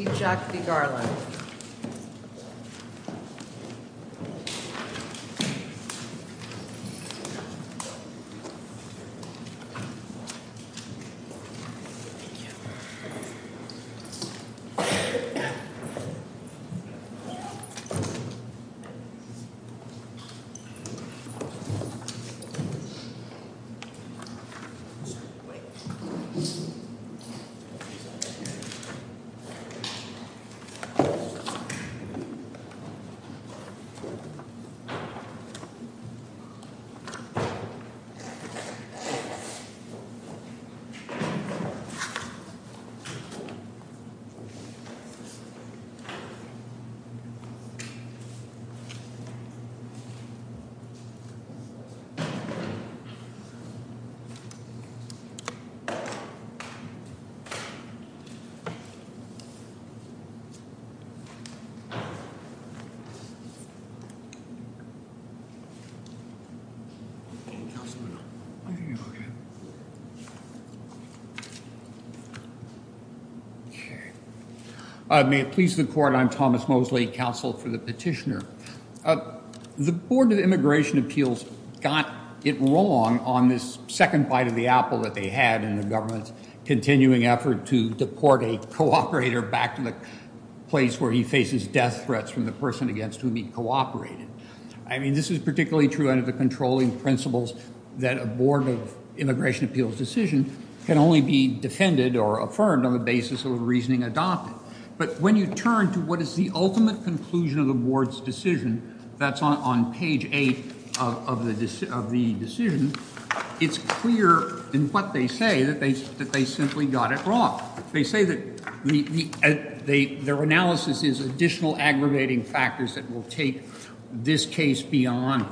through the Undergraduate Study Recourse in the College of Law. May it please the Court, I'm Thomas Mosley, counsel for the petitioner. The Board of Immigration Appeals got it wrong on this second bite of the apple that they had in the government's continuing effort to deport a cooperator back to the place where he faces death threats from the person against whom he cooperated. I mean, this is particularly true under the controlling principles that a Board of Immigration Appeals decision can only be defended or affirmed on the basis of a reasoning adopted. But when you turn to what is the ultimate conclusion of the Board's decision, that's on page eight of the decision, it's clear in what they say that they simply got it wrong. They say that their analysis is additional aggravating factors that will take this case beyond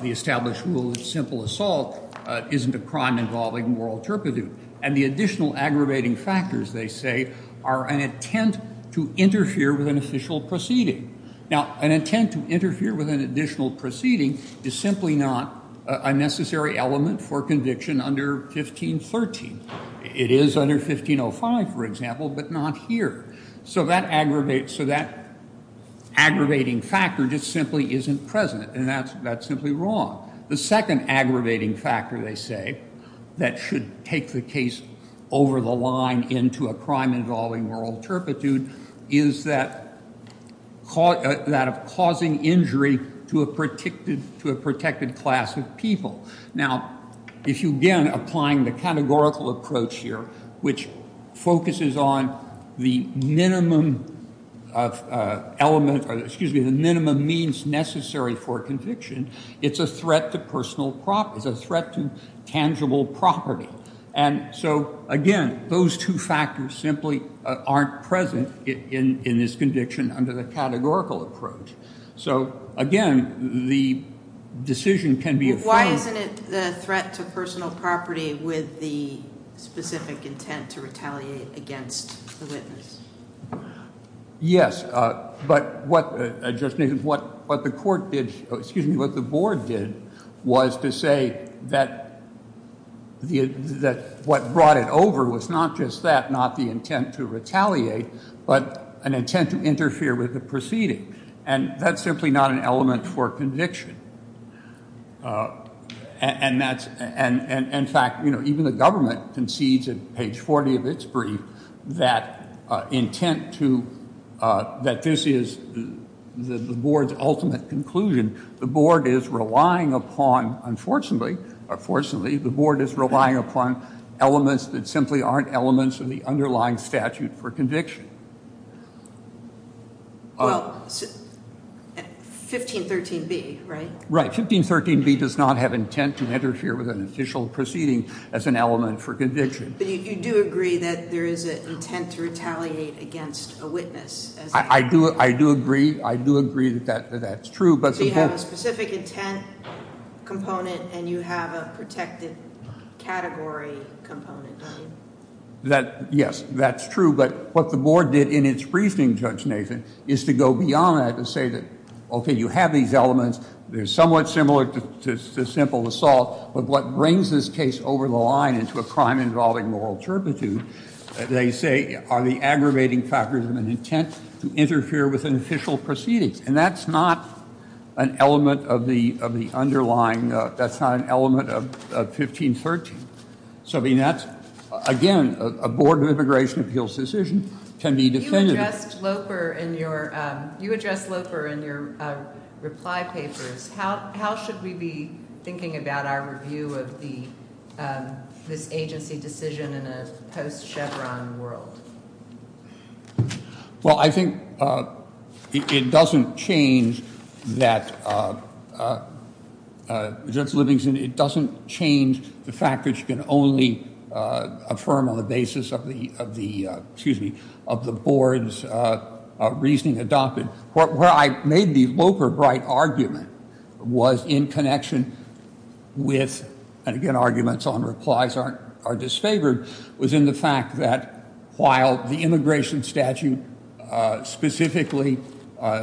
the established rule that simple assault isn't a crime involving moral turpitude. And the additional aggravating factors, they say, are an intent to interfere with an official proceeding. Now, an intent to interfere with an additional proceeding is simply not a necessary element for conviction under 1513. It is under 1505, for example, but not here. So that aggravating factor just simply isn't present, and that's simply wrong. The second aggravating factor, they say, that should take the case over the line into a crime involving moral turpitude is that of causing injury to a protected class of people. Now, if you again apply the categorical approach here, which focuses on the minimum element or excuse me, the minimum means necessary for conviction, it's a threat to personal property. And so, again, those two factors simply aren't present in this conviction under the categorical approach. So, again, the decision can be a threat. Why isn't it a threat to personal property with the specific intent to retaliate against the witness? Yes, but what the court did, excuse me, what the board did was to say that what brought it over was not just that, not the intent to retaliate, but an intent to interfere with the proceeding. And that's simply not an element for conviction. And that's, and in fact, you know, even the government concedes in page 40 of its brief that intent to, that this is the board's ultimate conclusion. The board is relying upon, unfortunately, fortunately, the board is relying upon elements that simply aren't elements of the underlying statute for conviction. Well, 1513B, right? Right. 1513B does not have intent to interfere with an official proceeding as an element for conviction. But you do agree that there is an intent to retaliate against a witness. I do. I do agree. I do agree that that's true. But you have a specific intent component and you have a protected category component. That, yes, that's true. But what the board did in its briefing, Judge Nathan, is to go beyond that and say that, OK, you have these elements. They're somewhat similar to simple assault. But what brings this case over the line into a crime involving moral turpitude, they say, are the aggravating factors of an intent to interfere with an official proceeding. And that's not an element of the underlying, that's not an element of 1513. So, I mean, that's, again, a Board of Immigration Appeals decision can be definitive. You addressed Loper in your reply papers. How should we be thinking about our review of this agency decision in a post-Chevron world? Well, I think it doesn't change that, Judge Livingston, it doesn't change the fact that you can only affirm on the basis of the, excuse me, of the board's reasoning adopted. Where I made the Loper-Bright argument was in connection with, and again, arguments on replies are disfavored, was in the fact that while the immigration statute specifically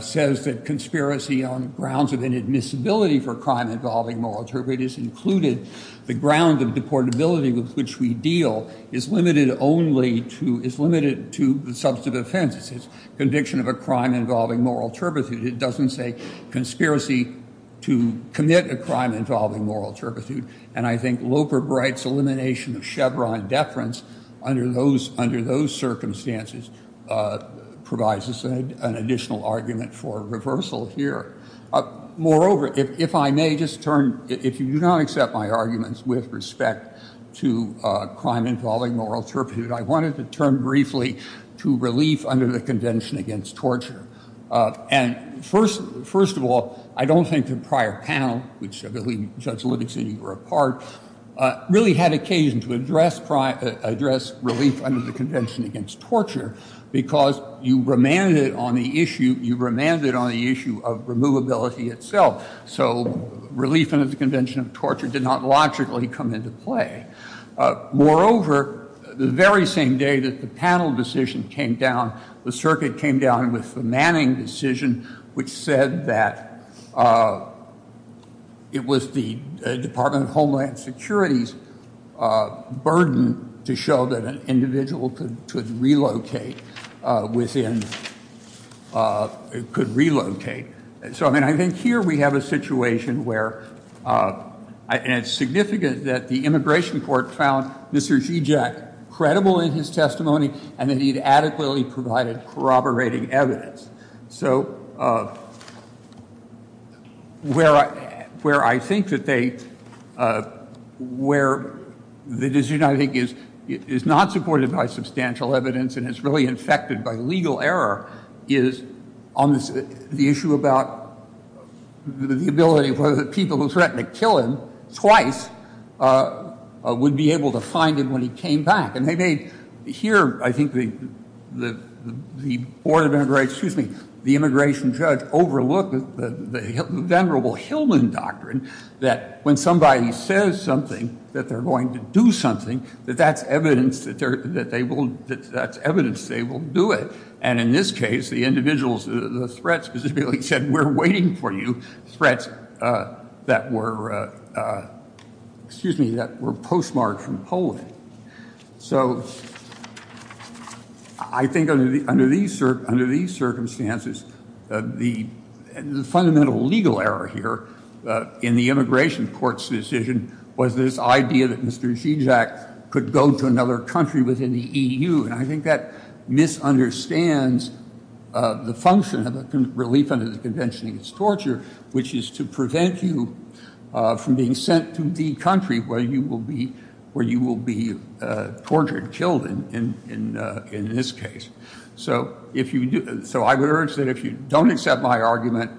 says that conspiracy on grounds of inadmissibility for crime involving moral turpitude is included, the ground of deportability with which we deal is limited only to, is limited to the substantive offenses. It's conviction of a crime involving moral turpitude. It doesn't say conspiracy to commit a crime involving moral turpitude. And I think Loper-Bright's elimination of Chevron deference under those circumstances provides us an additional argument for reversal here. Moreover, if I may just turn, if you do not accept my arguments with respect to crime involving moral turpitude, I wanted to turn briefly to relief under the Convention Against Torture. And first of all, I don't think the prior panel, which I believe Judge Livingston, you were a part, really had occasion to address relief under the Convention Against Torture because you remanded it on the issue, you remanded it on the issue of removability itself. So relief under the Convention Against Torture did not logically come into play. Moreover, the very same day that the panel decision came down, the circuit came down with the Manning decision, which said that it was the Department of Homeland Security's burden to show that an individual could relocate within, could relocate. So I mean, I think here we have a situation where, and it's significant that the Immigration Court found Mr. Zizek credible in his testimony and that he had adequately provided corroborating evidence. So where I think that they, where the decision, I think, is not supported by substantial evidence and is really infected by legal error is on the issue about the ability of whether the people who threatened to kill him twice would be able to find him when he came back. And they made, here, I think the Board of Immigrants, excuse me, the immigration judge overlooked the venerable Hillman Doctrine that when somebody says something, that they're going to do something, that that's evidence that they will, that's evidence they will do it. And in this case, the individuals, the threat specifically said, we're waiting for you, threats that were, excuse me, that were postmarked from polling. So I think under these circumstances, the fundamental legal error here in the Immigration Court's decision was this idea that Mr. Zizek could go to another country within the EU. And I think that misunderstands the function of a relief under the Convention Against Torture, which is to prevent you from being sent to the country where you will be tortured, killed in this case. So I would urge that if you don't accept my argument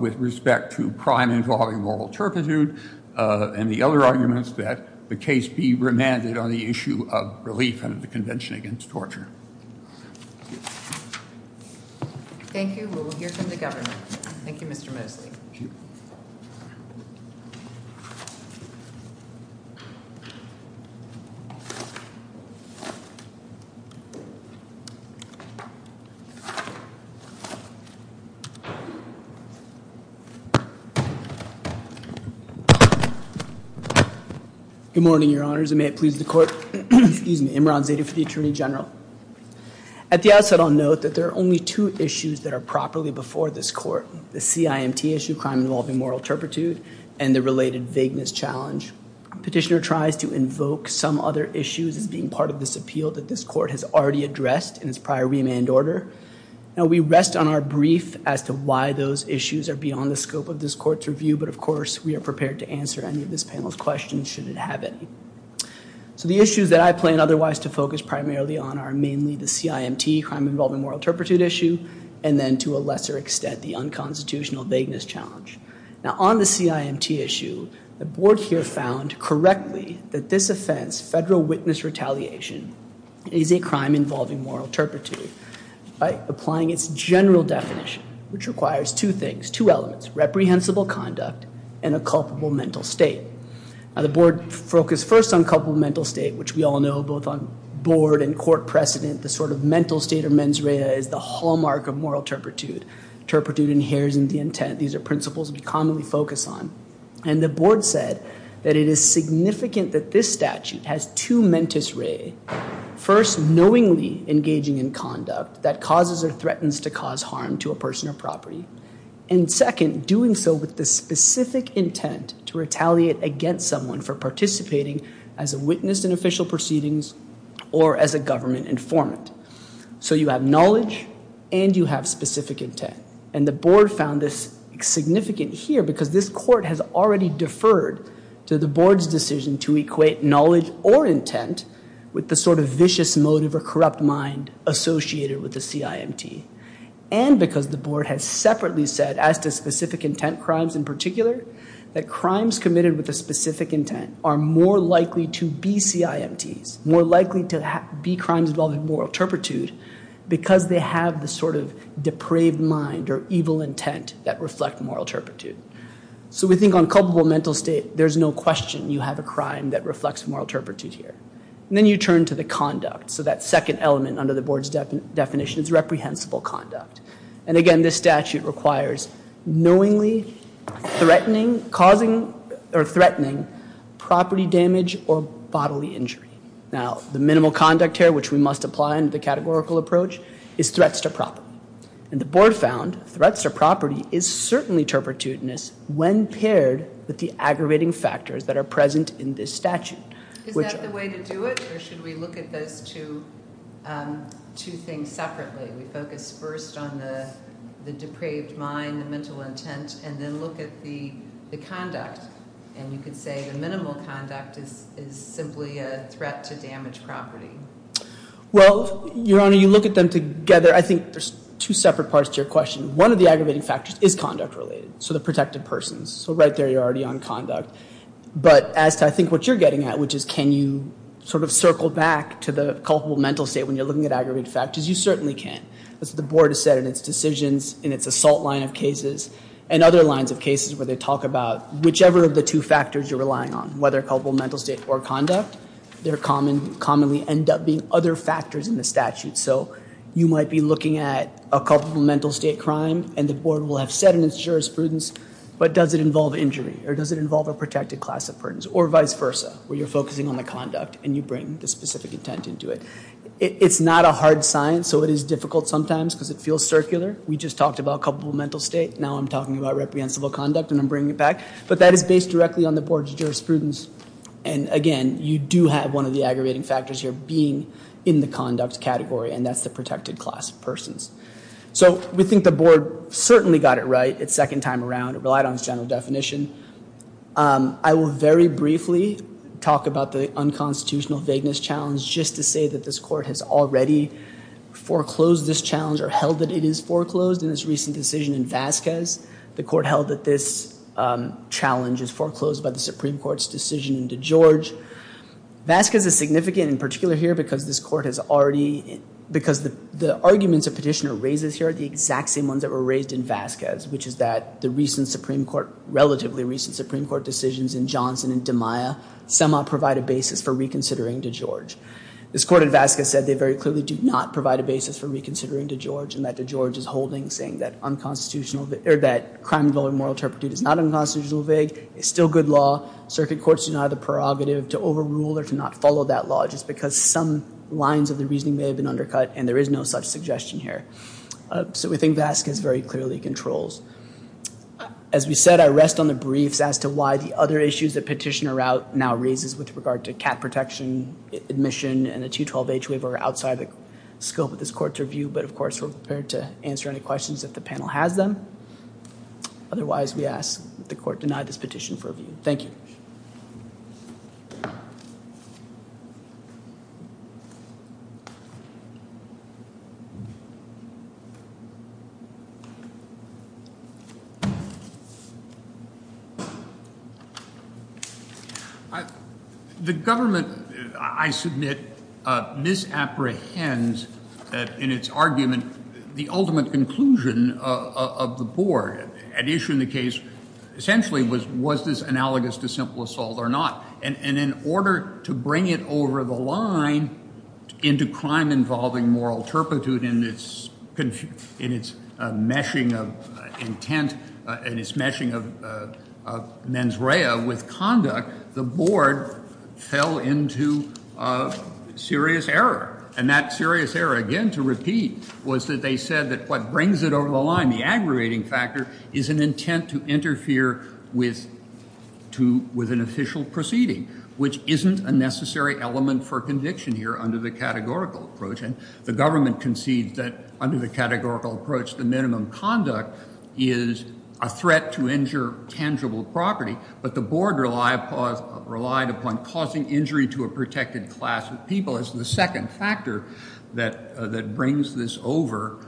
with respect to crime involving moral turpitude and the other arguments that the case be remanded on the issue of relief under the Convention Against Torture. Thank you. We will hear from the government. Thank you, Mr. Mosley. Good morning, your honors, and may it please the court. Excuse me, Imran Zadeh for the Attorney General. At the outset, I'll note that there are only two issues that are properly before this court. The CIMT issue, crime involving moral turpitude, and the related vagueness challenge. Petitioner tries to invoke some other issues as being part of this appeal that this court has already addressed in its prior remand order. Now, we rest on our brief as to why those issues are beyond the scope of this court's review. But of course, we are prepared to answer any of this panel's questions should it have any. So the issues that I plan otherwise to focus primarily on are mainly the CIMT, crime involving moral turpitude issue, and then to a lesser extent, the unconstitutional vagueness challenge. Now, on the CIMT issue, the board here found correctly that this offense, federal witness retaliation, is a crime involving moral turpitude by applying its general definition, which requires two things, two elements, reprehensible conduct, and a culpable mental state. Now, the board focused first on culpable mental state, which we all know both on board and court precedent, the sort of mental state or mens rea is the hallmark of moral turpitude. Turpitude inheres in the intent. These are principles we commonly focus on. And the board said that it is significant that this statute has two mentis rea. First, knowingly engaging in conduct that causes or threatens to cause harm to a person or property. And second, doing so with the specific intent to retaliate against someone for participating as a witness in official proceedings or as a government informant. So you have knowledge and you have specific intent. And the board found this significant here because this court has already deferred to the board's decision to equate knowledge or intent with the sort of vicious motive or corrupt mind associated with the CIMT. And because the board has separately said, as to specific intent crimes in particular, that crimes committed with a specific intent are more likely to be CIMTs, more likely to be crimes involving moral turpitude, because they have the sort of depraved mind or evil intent that reflect moral turpitude. So we think on culpable mental state, there's no question you have a crime that reflects moral turpitude here. And then you turn to the conduct. So that second element under the board's definition is reprehensible conduct. And again, this statute requires knowingly threatening, causing or threatening property damage or bodily injury. Now, the minimal conduct here, which we must apply in the categorical approach, is threats to property. And the board found threats to property is certainly turpitudinous when paired with the aggravating factors that are present in this statute. Is that the way to do it? Or should we look at those two things separately? We focus first on the depraved mind, the mental intent, and then look at the conduct. And you could say the minimal conduct is simply a threat to damaged property. Well, Your Honor, you look at them together. I think there's two separate parts to your question. One of the aggravating factors is conduct related, so the protected persons. So right there, you're already on conduct. But as to I think what you're getting at, which is can you sort of circle back to the culpable mental state when you're looking at aggravated factors, you certainly can. As the board has said in its decisions, in its assault line of cases, and other lines of cases where they talk about whichever of the two factors you're relying on, whether culpable mental state or conduct, there commonly end up being other factors in the statute. So you might be looking at a culpable mental state crime, and the board will have said in its jurisprudence, but does it involve injury, or does it involve a protected class of persons, or vice versa, where you're focusing on the conduct and you bring the specific intent into it. It's not a hard science, so it is difficult sometimes because it feels circular. We just talked about culpable mental state. Now I'm talking about reprehensible conduct, and I'm bringing it back. But that is based directly on the board's jurisprudence. And again, you do have one of the aggravating factors here being in the conduct category, and that's the protected class of persons. So we think the board certainly got it right its second time around. It relied on its general definition. I will very briefly talk about the unconstitutional vagueness challenge, which is just to say that this court has already foreclosed this challenge, or held that it is foreclosed in this recent decision in Vasquez. The court held that this challenge is foreclosed by the Supreme Court's decision in DeGeorge. Vasquez is significant in particular here because this court has already— because the arguments a petitioner raises here are the exact same ones that were raised in Vasquez, which is that the recent Supreme Court—relatively recent Supreme Court decisions in Johnson and DeMaia somehow provide a basis for reconsidering DeGeorge. This court in Vasquez said they very clearly do not provide a basis for reconsidering DeGeorge and that DeGeorge is holding saying that unconstitutional— or that crime involving moral turpitude is not unconstitutional vague. It's still good law. Circuit courts do not have the prerogative to overrule or to not follow that law just because some lines of the reasoning may have been undercut, and there is no such suggestion here. So we think Vasquez very clearly controls. As we said, I rest on the briefs as to why the other issues the petitioner now raises with regard to cat protection, admission, and the 212H waiver are outside the scope of this court's review, but of course we're prepared to answer any questions if the panel has them. Otherwise, we ask that the court deny this petition for review. Thank you. The government, I submit, misapprehends in its argument the ultimate conclusion of the board at issuing the case essentially was this analogous to simple assault or not, and in order to bring it over the line into crime involving moral turpitude in its meshing of intent and its meshing of mens rea with conduct, the board fell into serious error, and that serious error, again, to repeat, was that they said that what brings it over the line, the aggravating factor, is an intent to interfere with an official proceeding, which isn't a necessary element for conviction here under the categorical approach, and the government concedes that under the categorical approach, the minimum conduct is a threat to injure tangible property, but the board relied upon causing injury to a protected class of people as the second factor that brings this over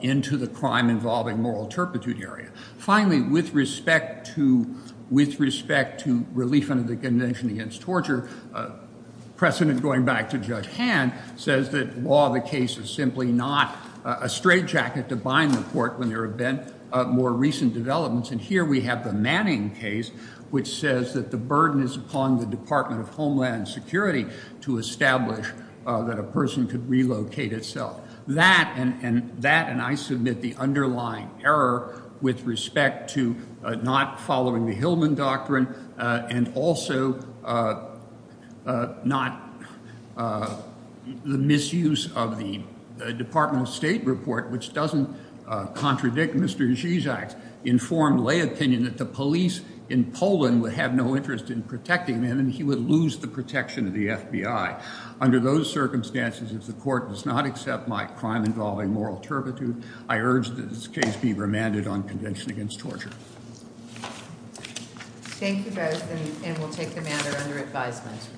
into the crime involving moral turpitude area. Finally, with respect to relief under the Convention Against Torture, precedent going back to Judge Hand says that while the case is simply not a straitjacket to bind the court when there have been more recent developments, and here we have the Manning case which says that the burden is upon the Department of Homeland Security to establish that a person could relocate itself. That and I submit the underlying error with respect to not following the Hillman Doctrine and also not the misuse of the Department of State report, which doesn't contradict Mr. Zizak's informed lay opinion that the police in Poland would have no interest in protecting them and he would lose the protection of the FBI. Under those circumstances, if the court does not accept my crime involving moral turpitude, I urge that this case be remanded on Convention Against Torture. Thank you both and we'll take the matter under advisement.